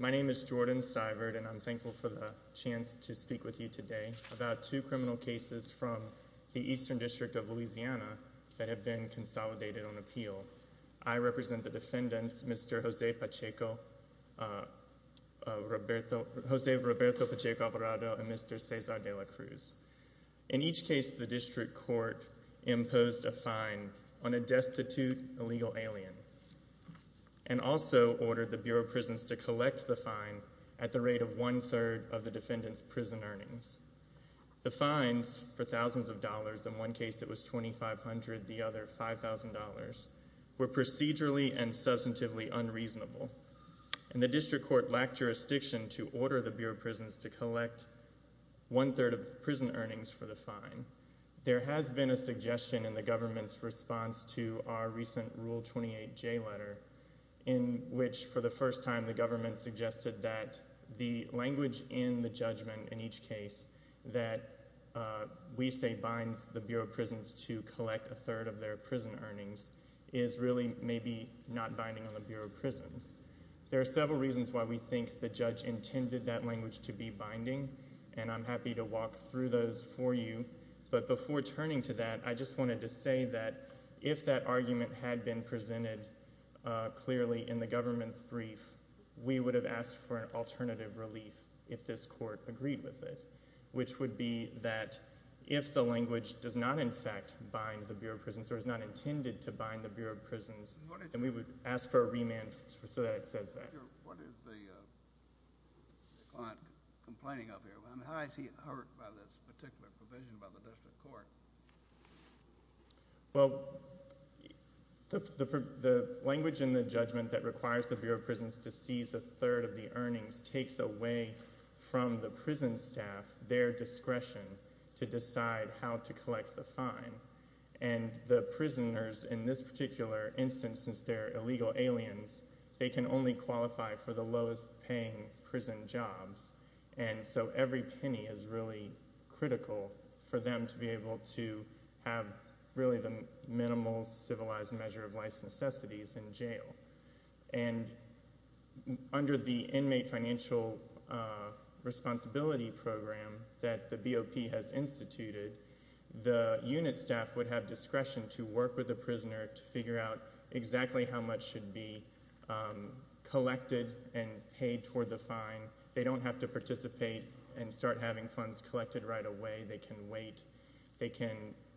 My name is Jordan Seibert and I'm thankful for the chance to speak with you today about two criminal cases from the Eastern District of Louisiana that have been consolidated on appeal. I represent the defendants, Mr. Jose Roberto Pacheco-Alvarado and Mr. Cesar de la Cruz. In each case, the district court imposed a fine on a destitute illegal alien and also ordered the Bureau of Prisons to collect the fine at the rate of one-third of the defendant's prison earnings. The fines for thousands of dollars, in one case it was $2,500, the other $5,000, were procedurally and substantively unreasonable and the district court lacked jurisdiction to order the Bureau of Prisons to collect one-third of the prison earnings for the fine. There has been a suggestion in the government's response to our recent Rule 28J letter in which, for the first time, the government suggested that the language in the judgment in each case that we say binds the Bureau of Prisons to collect a third of their prison earnings is really maybe not binding on the Bureau of Prisons. There are several reasons why we think the judge intended that language to be binding and I'm happy to walk through those for you, but before turning to that, I just wanted to say that if that argument had been presented clearly in the government's brief, we would have asked for an alternative relief if this court agreed with it, which would be that if the language does not, in fact, bind the Bureau of Prisons or is not intended to bind the Bureau of Prisons, then we would ask for a remand so that it says that. Judge, what is the client complaining of here? I mean, how is he hurt by this particular provision by the district court? Well, the language in the judgment that requires the Bureau of Prisons to seize a third of the earnings takes away from the prison staff their discretion to decide how to collect the fine, and the prisoners, in this particular instance, since they're illegal aliens, they can only qualify for the lowest-paying prison jobs, and so every penny is really critical for them to be able to have really the minimal, civilized measure of life's necessities in jail, and under the inmate financial responsibility program that the BOP has instituted, the unit staff would have discretion to work with the prisoner to figure out exactly how much should be collected and paid toward the fine. They don't have to participate and start having funds collected right away. They can wait. They can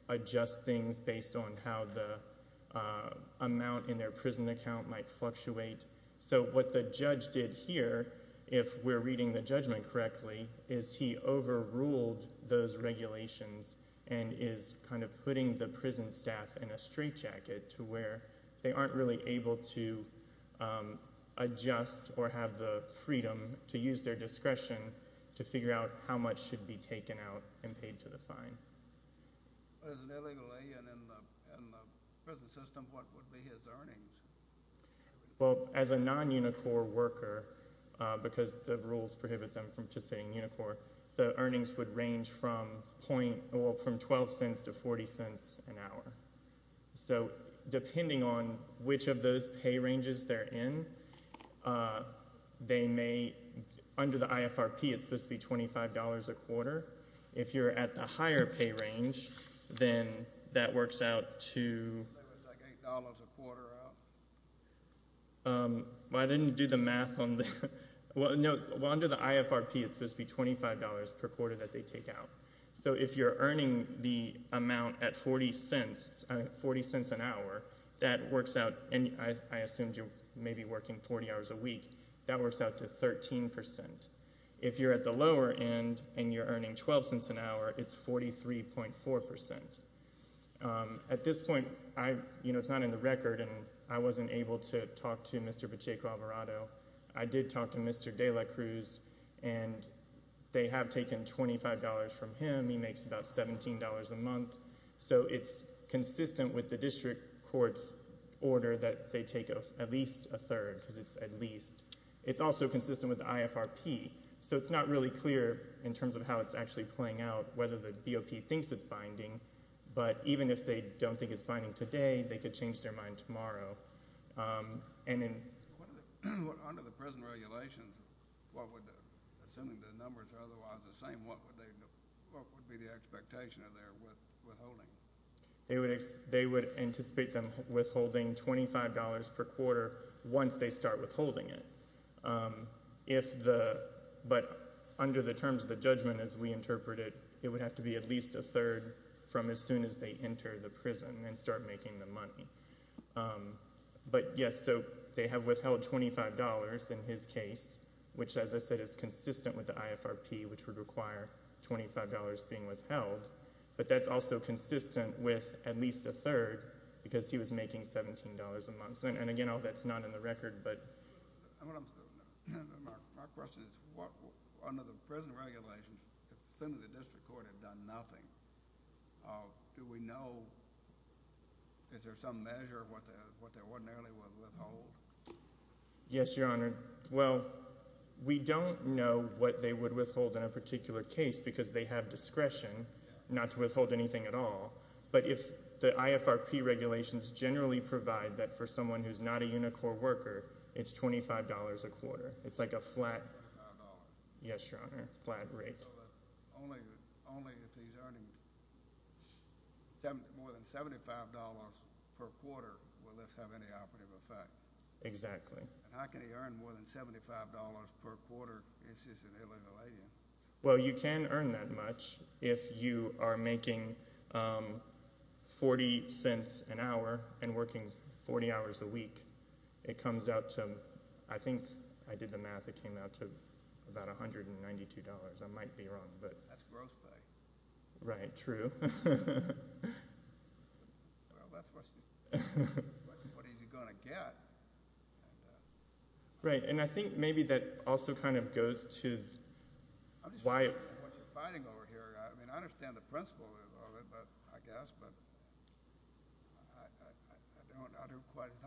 adjust things based on how the amount in their prison account might fluctuate. So what the judge did here, if we're reading the judgment correctly, is he overruled those regulations and is kind of putting the prison staff in a straitjacket to where they aren't really able to adjust or have the freedom to use their discretion to figure out how much should be taken out and paid to the fine. As an illegal alien in the prison system, what would be his earnings? Well, as a non-Unicor worker, because the rules prohibit them from participating in Unicor, the earnings would range from 12 cents to 40 cents an hour. So depending on which of those pay ranges they're in, they may, under the IFRP, it's supposed to be $25 a quarter. If you're at the higher pay range, then that works out to... It's like $8 a quarter, right? Well, I didn't do the math on the... Well, no, under the IFRP, it's supposed to be $25 per quarter that they take out. So if you're earning the amount at 40 cents an hour, that works out, and I assumed you're maybe working 40 hours a week, that works out to 13%. If you're at the lower end and you're earning 12 cents an hour, it's 43.4%. At this point, it's not in the record, and I wasn't able to talk to Mr. Pacheco Alvarado. I did talk to Mr. De La Cruz, and they have taken $25 from him, he makes about $17 a month. So it's consistent with the district court's order that they take at least a third, because it's at least... It's also consistent with the IFRP, so it's not really clear in terms of how it's actually playing out, whether the BOP thinks it's binding, but even if they don't think it's binding today, they could change their mind tomorrow. And in... Under the prison regulations, assuming the numbers are otherwise the same, what would be the expectation of their withholding? They would anticipate them withholding $25 per quarter once they start withholding it. If the... But under the terms of the judgment as we interpreted, it would have to be at least a third from as soon as they enter the prison and start making the money. But yes, so they have withheld $25 in his case, which, as I said, is consistent with the IFRP, which would require $25 being withheld, but that's also consistent with at least a third, because he was making $17 a month. And again, all that's not in the record, but... My question is, under the prison regulations, assuming the district court had done nothing, do we know, is there some measure of what they ordinarily would withhold? Yes, Your Honor. Well, we don't know what they would withhold in a particular case, because they have discretion not to withhold anything at all. But if the IFRP regulations generally provide that for someone who's not a Unicor worker, it's $25 a quarter. It's like a flat... $75? Yes, Your Honor. Flat rate. So only if he's earning more than $75 per quarter will this have any operative effect? Exactly. And how can he earn more than $75 per quarter if he's an illegal agent? Well, you can earn that much if you are making 40 cents an hour and working 40 hours a week. It comes out to... I think I did the math. It came out to about $192. I might be wrong, but... That's gross pay. Right. True. Well, that's the question. The question is, what is he going to get? Right. And I think maybe that also kind of goes to why... I'm just wondering what you're fighting over here. I mean, I understand the principle of it, I guess, but... I don't know. It's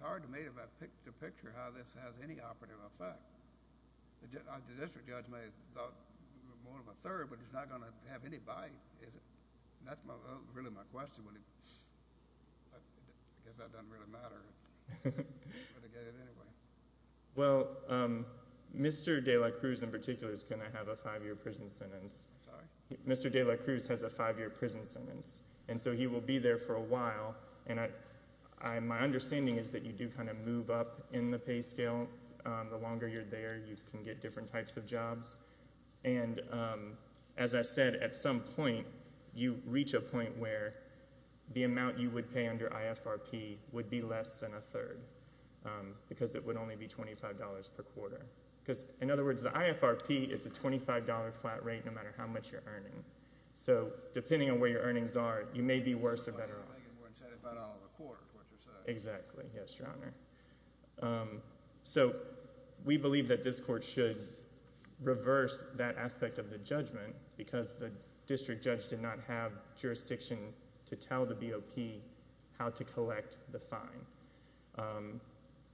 hard to me to picture how this has any operative effect. The district judge may have thought more of a third, but it's not going to have any bite. That's really my question. I guess that doesn't really matter. He's going to get it anyway. Well, Mr. De La Cruz, in particular, is going to have a five-year prison sentence. Sorry? Mr. De La Cruz has a five-year prison sentence, and so he will be there for a while. And my understanding is that you do kind of move up in the pay scale. The longer you're there, you can get different types of jobs. And, as I said, at some point, you reach a point where the amount you would pay under IFRP would be less than a third, because it would only be $25 per quarter. Because, in other words, the IFRP is a $25 flat rate no matter how much you're earning. So, depending on where your earnings are, you may be worse or better off. You're making more than $75 a quarter is what you're saying. Exactly. Yes, Your Honor. So, we believe that this court should reverse that aspect of the judgment because the district judge did not have jurisdiction to tell the BOP how to collect the fine.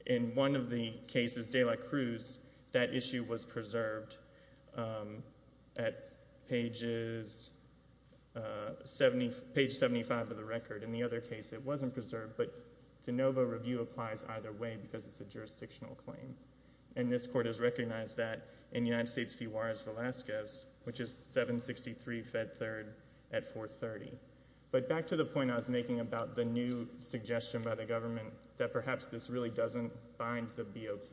In one of the cases, De La Cruz, that issue was preserved at page 75 of the record. In the other case, it wasn't preserved, but de novo review applies either way because it's a jurisdictional claim. And this court has recognized that in United States v. Juarez Velazquez, which is 763 Fed Third at 430. But back to the point I was making about the new suggestion by the government that perhaps this really doesn't bind the BOP.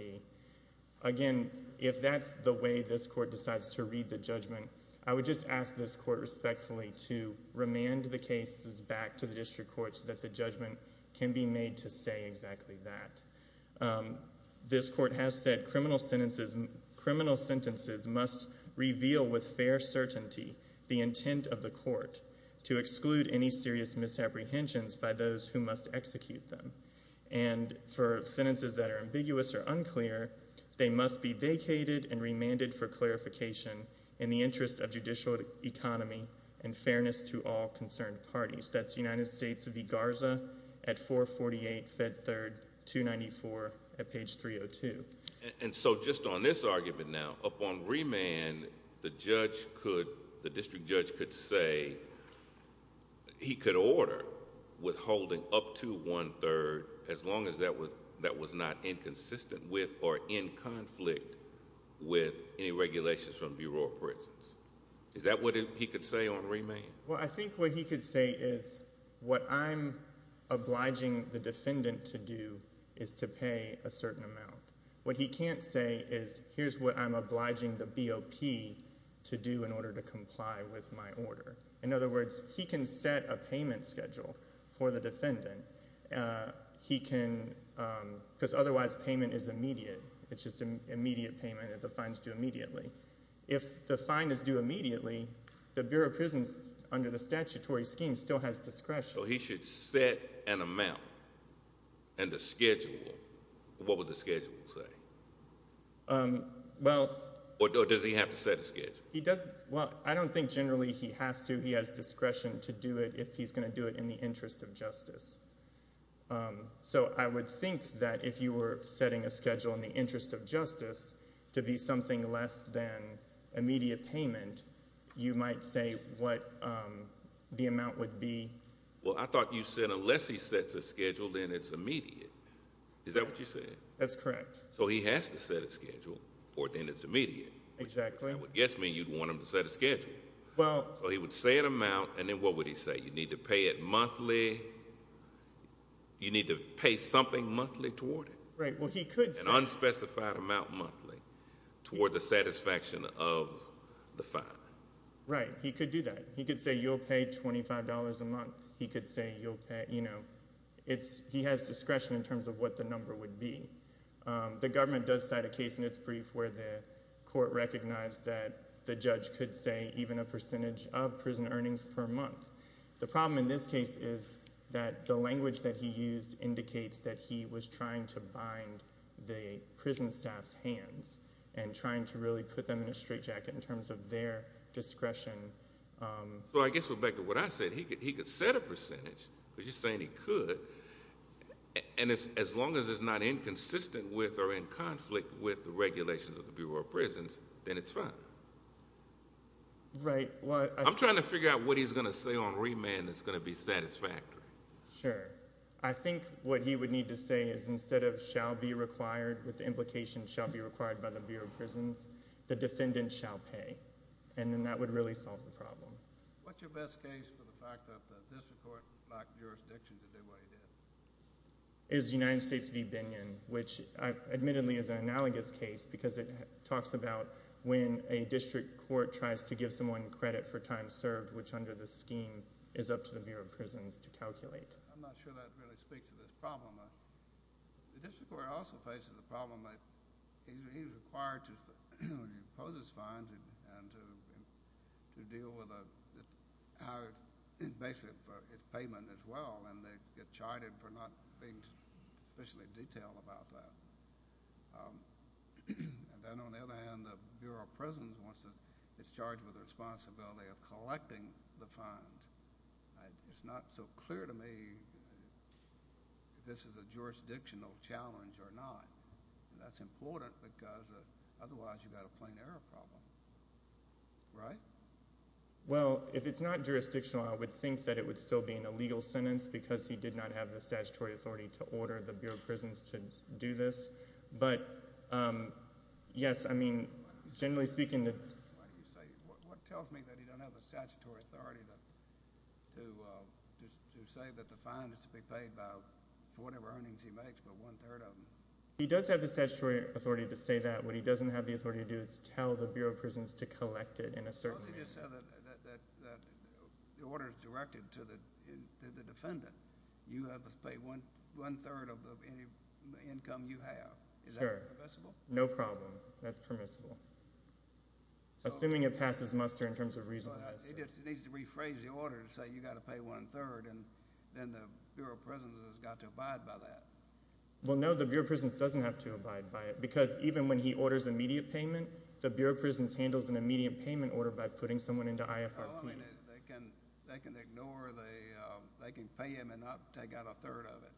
Again, if that's the way this court decides to read the judgment, I would just ask this court respectfully to remand the cases back to the district court so that the judgment can be made to say exactly that. This court has said criminal sentences must reveal with fair certainty the intent of the court to exclude any serious misapprehensions by those who must execute them. And for sentences that are ambiguous or unclear, they must be vacated and remanded for clarification in the interest of judicial economy and fairness to all concerned parties. That's United States v. Garza at 448 Fed Third 294 at page 302. And so just on this argument now, upon remand, the district judge could say he could order withholding up to one third as long as that was not inconsistent with or in conflict with any regulations from Bureau of Prisons. Is that what he could say on remand? Well, I think what he could say is what I'm obliging the defendant to do is to pay a certain amount. What he can't say is here's what I'm obliging the BOP to do in order to comply with my order. In other words, he can set a payment schedule for the defendant. He can because otherwise payment is immediate. It's just an immediate payment if the fine is due immediately. If the fine is due immediately, the Bureau of Prisons under the statutory scheme still has discretion. So he should set an amount and a schedule. What would the schedule say? Well. Or does he have to set a schedule? He does. Well, I don't think generally he has to. He has discretion to do it if he's going to do it in the interest of justice. So I would think that if you were setting a schedule in the interest of justice to be something less than immediate payment, you might say what the amount would be. Well, I thought you said unless he sets a schedule, then it's immediate. Is that what you're saying? That's correct. So he has to set a schedule or then it's immediate. Exactly. That would guess me you'd want him to set a schedule. Well. So he would say an amount and then what would he say? You need to pay it monthly. You need to pay something monthly toward it. Right. Well, he could say. An unspecified amount monthly toward the satisfaction of the fine. Right. He could do that. He could say you'll pay $25 a month. He could say, you know, he has discretion in terms of what the number would be. The government does cite a case in its brief where the court recognized that the judge could say even a percentage of prison earnings per month. The problem in this case is that the language that he used indicates that he was trying to bind the prison staff's hands and trying to really put them in a straitjacket in terms of their discretion. Well, I guess, Rebecca, what I said, he could set a percentage. But you're saying he could. And as long as it's not inconsistent with or in conflict with the regulations of the Bureau of Prisons, then it's fine. Right. I'm trying to figure out what he's going to say on remand that's going to be satisfactory. Sure. I think what he would need to say is instead of shall be required with the implication shall be required by the Bureau of Prisons, the defendant shall pay. And then that would really solve the problem. What's your best case for the fact that the district court lacked jurisdiction to do what he did? It is the United States v. Binion, which admittedly is an analogous case because it talks about when a district court tries to give someone credit for time served, which under the scheme is up to the Bureau of Prisons to calculate. I'm not sure that really speaks to this problem. The district court also faces the problem that he's required to impose his fines and to deal with basically his payment as well, and they get chided for not being sufficiently detailed about that. And then on the other hand, the Bureau of Prisons is charged with the responsibility of collecting the fines. It's not so clear to me if this is a jurisdictional challenge or not. That's important because otherwise you've got a plain error problem, right? Well, if it's not jurisdictional, I would think that it would still be an illegal sentence because he did not have the statutory authority to order the Bureau of Prisons to do this. But, yes, I mean, generally speaking— What do you say? What tells me that he doesn't have the statutory authority to say that the fine is to be paid for whatever earnings he makes but one-third of them? He does have the statutory authority to say that. What he doesn't have the authority to do is tell the Bureau of Prisons to collect it in a certain manner. Suppose he just said that the order is directed to the defendant. You have to pay one-third of any income you have. Is that permissible? Sure. No problem. That's permissible. Assuming it passes muster in terms of reasonableness. He just needs to rephrase the order to say you've got to pay one-third, and then the Bureau of Prisons has got to abide by that. Well, no, the Bureau of Prisons doesn't have to abide by it because even when he orders immediate payment, the Bureau of Prisons handles an immediate payment order by putting someone into IFRP. They can ignore the—they can pay him and not take out a third of it.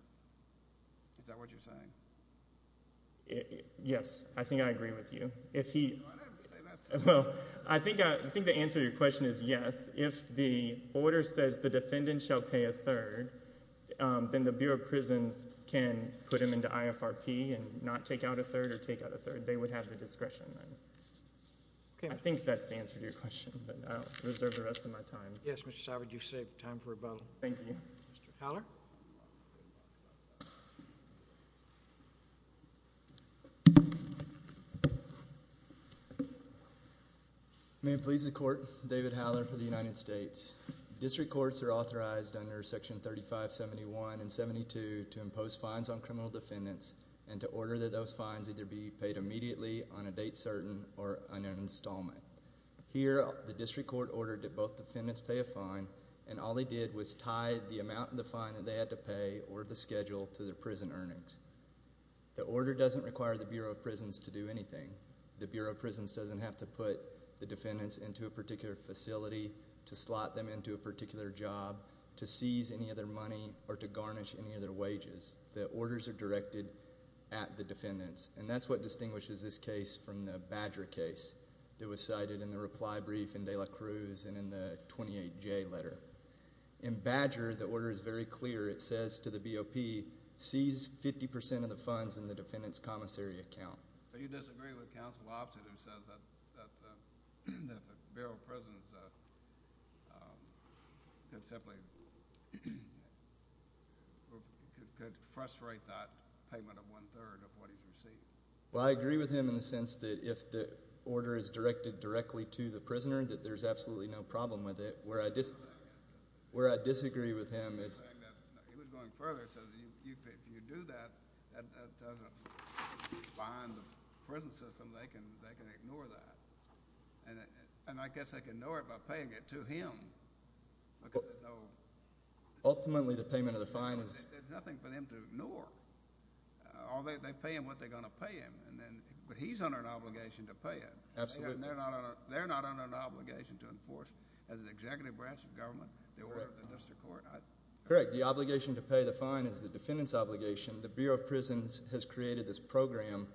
Is that what you're saying? Yes. I think I agree with you. I didn't say that. Well, I think the answer to your question is yes. If the order says the defendant shall pay a third, then the Bureau of Prisons can put him into IFRP and not take out a third or take out a third. They would have the discretion then. Okay. I think that's the answer to your question, but I'll reserve the rest of my time. Yes, Mr. Sauber. You've saved time for rebuttal. Thank you. Mr. Howler? May it please the Court, David Howler for the United States. District courts are authorized under Section 3571 and 72 to impose fines on criminal defendants and to order that those fines either be paid immediately, on a date certain, or on an installment. Here, the district court ordered that both defendants pay a fine, and all they did was tie the amount of the fine that they had to pay or the schedule to their prison earnings. The order doesn't require the Bureau of Prisons to do anything. The Bureau of Prisons doesn't have to put the defendants into a particular facility to slot them into a particular job to seize any of their money or to garnish any of their wages. The orders are directed at the defendants, and that's what distinguishes this case from the Badger case that was cited in the reply brief in de la Cruz and in the 28J letter. In Badger, the order is very clear. It says to the BOP, seize 50% of the funds in the defendant's commissary account. Do you disagree with Counsel Lobson who says that the Bureau of Prisons could simply frustrate that payment of one-third of what he's received? Well, I agree with him in the sense that if the order is directed directly to the prisoner, that there's absolutely no problem with it. Where I disagree with him is— He was going further. He says if you do that, that doesn't bind the prison system. They can ignore that. And I guess they can ignore it by paying it to him. Ultimately, the payment of the fine is— There's nothing for them to ignore. They pay him what they're going to pay him, but he's under an obligation to pay it. Absolutely. They're not under an obligation to enforce, as the executive branch of government, the order of the district court. Correct. The obligation to pay the fine is the defendant's obligation. The Bureau of Prisons has created this program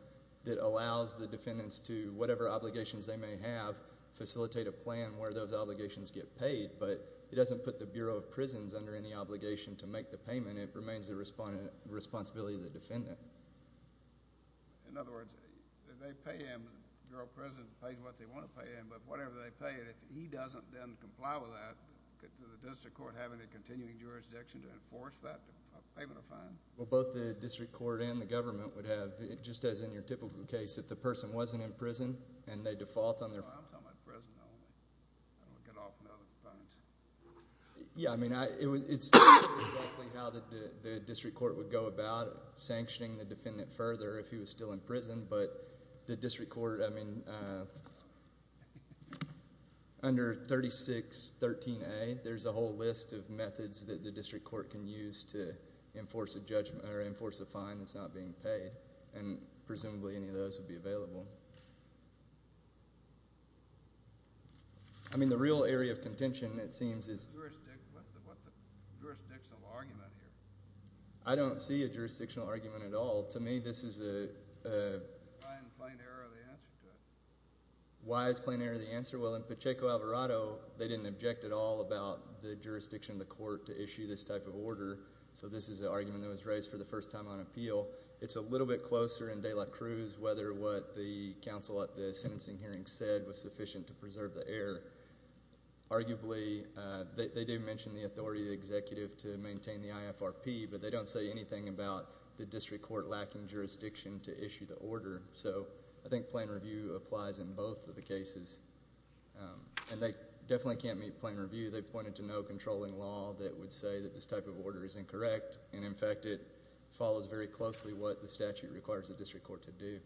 that allows the defendants to, whatever obligations they may have, facilitate a plan where those obligations get paid. But it doesn't put the Bureau of Prisons under any obligation to make the payment. It remains the responsibility of the defendant. In other words, they pay him. The Bureau of Prisons pays what they want to pay him. But whatever they pay him, if he doesn't then comply with that, does the district court have any continuing jurisdiction to enforce that payment of fine? Well, both the district court and the government would have, just as in your typical case, if the person wasn't in prison and they default on their— No, I'm talking about prison only. I don't get off no other fines. Yeah, I mean it's not exactly how the district court would go about sanctioning the defendant further if he was still in prison. But the district court, I mean, under 3613A, there's a whole list of methods that the district court can use to enforce a judgment or enforce a fine that's not being paid. And presumably any of those would be available. I mean the real area of contention, it seems, is— What's the jurisdictional argument here? I don't see a jurisdictional argument at all. To me, this is a— Why is plain error the answer to it? Why is plain error the answer? Well, in Pacheco-Alvarado, they didn't object at all about the jurisdiction of the court to issue this type of order. So this is an argument that was raised for the first time on appeal. It's a little bit closer in De La Cruz whether what the counsel at the sentencing hearing said was sufficient to preserve the error. Arguably, they did mention the authority of the executive to maintain the IFRP, but they don't say anything about the district court lacking jurisdiction to issue the order. So I think plain review applies in both of the cases. And they definitely can't meet plain review. They pointed to no controlling law that would say that this type of order is incorrect. And, in fact, it follows very closely what the statute requires the district court to do.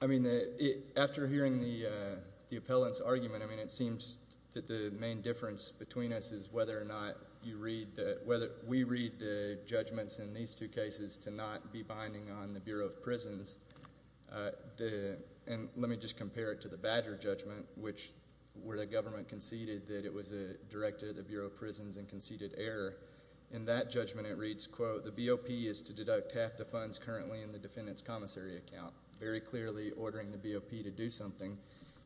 I mean, after hearing the appellant's argument, I mean, it seems that the main difference between us is whether or not you read— whether we read the judgments in these two cases to not be binding on the Bureau of Prisons. And let me just compare it to the Badger judgment, which where the government conceded that it was directed at the Bureau of Prisons and conceded error. In that judgment, it reads, quote, The BOP is to deduct half the funds currently in the defendant's commissary account, very clearly ordering the BOP to do something.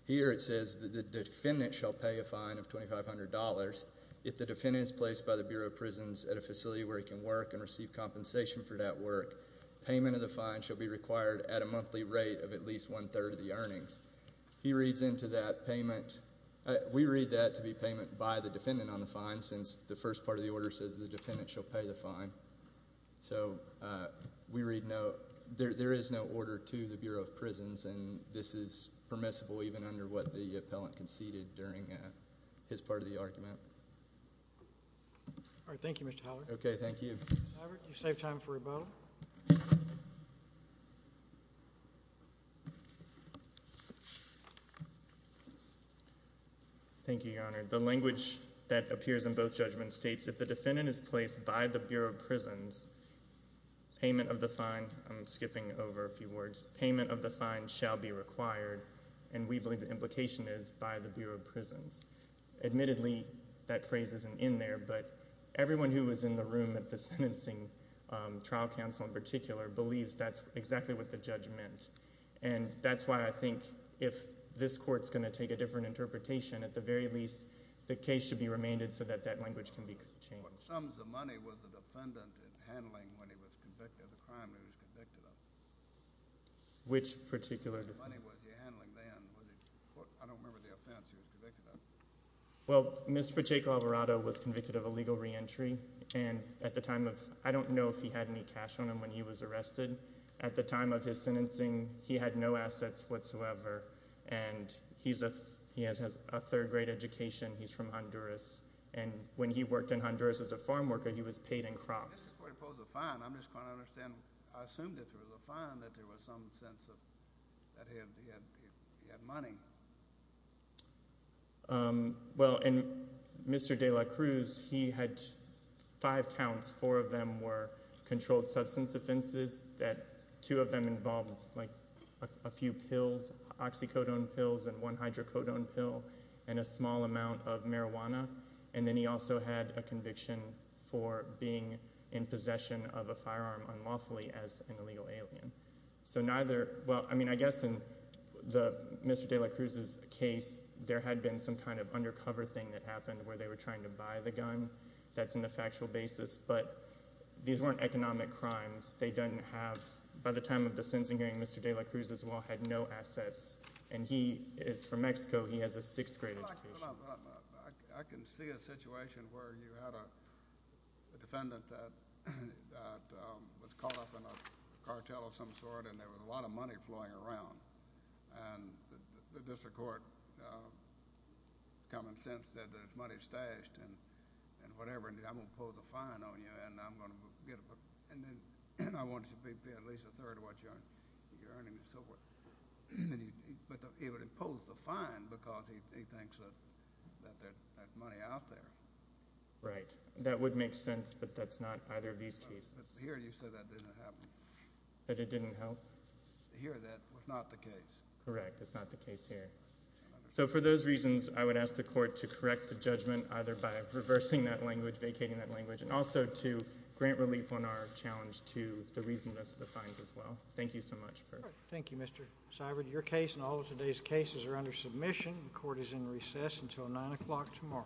Here it says that the defendant shall pay a fine of $2,500. If the defendant is placed by the Bureau of Prisons at a facility where he can work and receive compensation for that work, payment of the fine shall be required at a monthly rate of at least one-third of the earnings. He reads into that payment—we read that to be payment by the defendant on the fine, since the first part of the order says the defendant shall pay the fine. So we read no—there is no order to the Bureau of Prisons, and this is permissible even under what the appellant conceded during his part of the argument. All right, thank you, Mr. Howard. Okay, thank you. Mr. Abbott, you saved time for rebuttal. Thank you, Your Honor. The language that appears in both judgments states, If the defendant is placed by the Bureau of Prisons, payment of the fine—I'm skipping over a few words—payment of the fine shall be required, and we believe the implication is by the Bureau of Prisons. Admittedly, that phrase isn't in there, but everyone who was in the room at the sentencing trial council in particular believes that's exactly what the judge meant, and that's why I think if this Court's going to take a different interpretation, at the very least the case should be remainded so that that language can be changed. What sums the money was the defendant handling when he was convicted of the crime he was convicted of? Which particular— I don't remember the offense he was convicted of. Well, Mr. Pacheco Alvarado was convicted of illegal reentry, and at the time of— I don't know if he had any cash on him when he was arrested. At the time of his sentencing, he had no assets whatsoever, and he has a third-grade education. He's from Honduras, and when he worked in Honduras as a farm worker, he was paid in crops. I'm just trying to understand. I assumed that there was a fine, that there was some sense that he had money. Well, in Mr. de la Cruz, he had five counts. Four of them were controlled substance offenses. Two of them involved a few pills, oxycodone pills and one hydrocodone pill, and a small amount of marijuana. And then he also had a conviction for being in possession of a firearm unlawfully as an illegal alien. So neither—well, I mean, I guess in Mr. de la Cruz's case, there had been some kind of undercover thing that happened where they were trying to buy the gun. That's in the factual basis, but these weren't economic crimes. They didn't have—by the time of the sentencing hearing, Mr. de la Cruz, as well, had no assets. And he is from Mexico. He has a sixth-grade education. Well, I can see a situation where you had a defendant that was caught up in a cartel of some sort, and there was a lot of money flowing around. And the district court, common sense, said that his money is stashed and whatever, and I'm going to impose a fine on you, and I'm going to get— and then I want you to pay at least a third of what you're earning and so forth. But he would impose the fine because he thinks that there's money out there. Right. That would make sense, but that's not either of these cases. But here you said that didn't happen. That it didn't help? Here that was not the case. Correct. It's not the case here. So for those reasons, I would ask the court to correct the judgment either by reversing that language, vacating that language, and also to grant relief on our challenge to the reasonableness of the fines as well. Thank you so much. Thank you, Mr. Seibert. Your case and all of today's cases are under submission. The court is in recess until 9 o'clock tomorrow.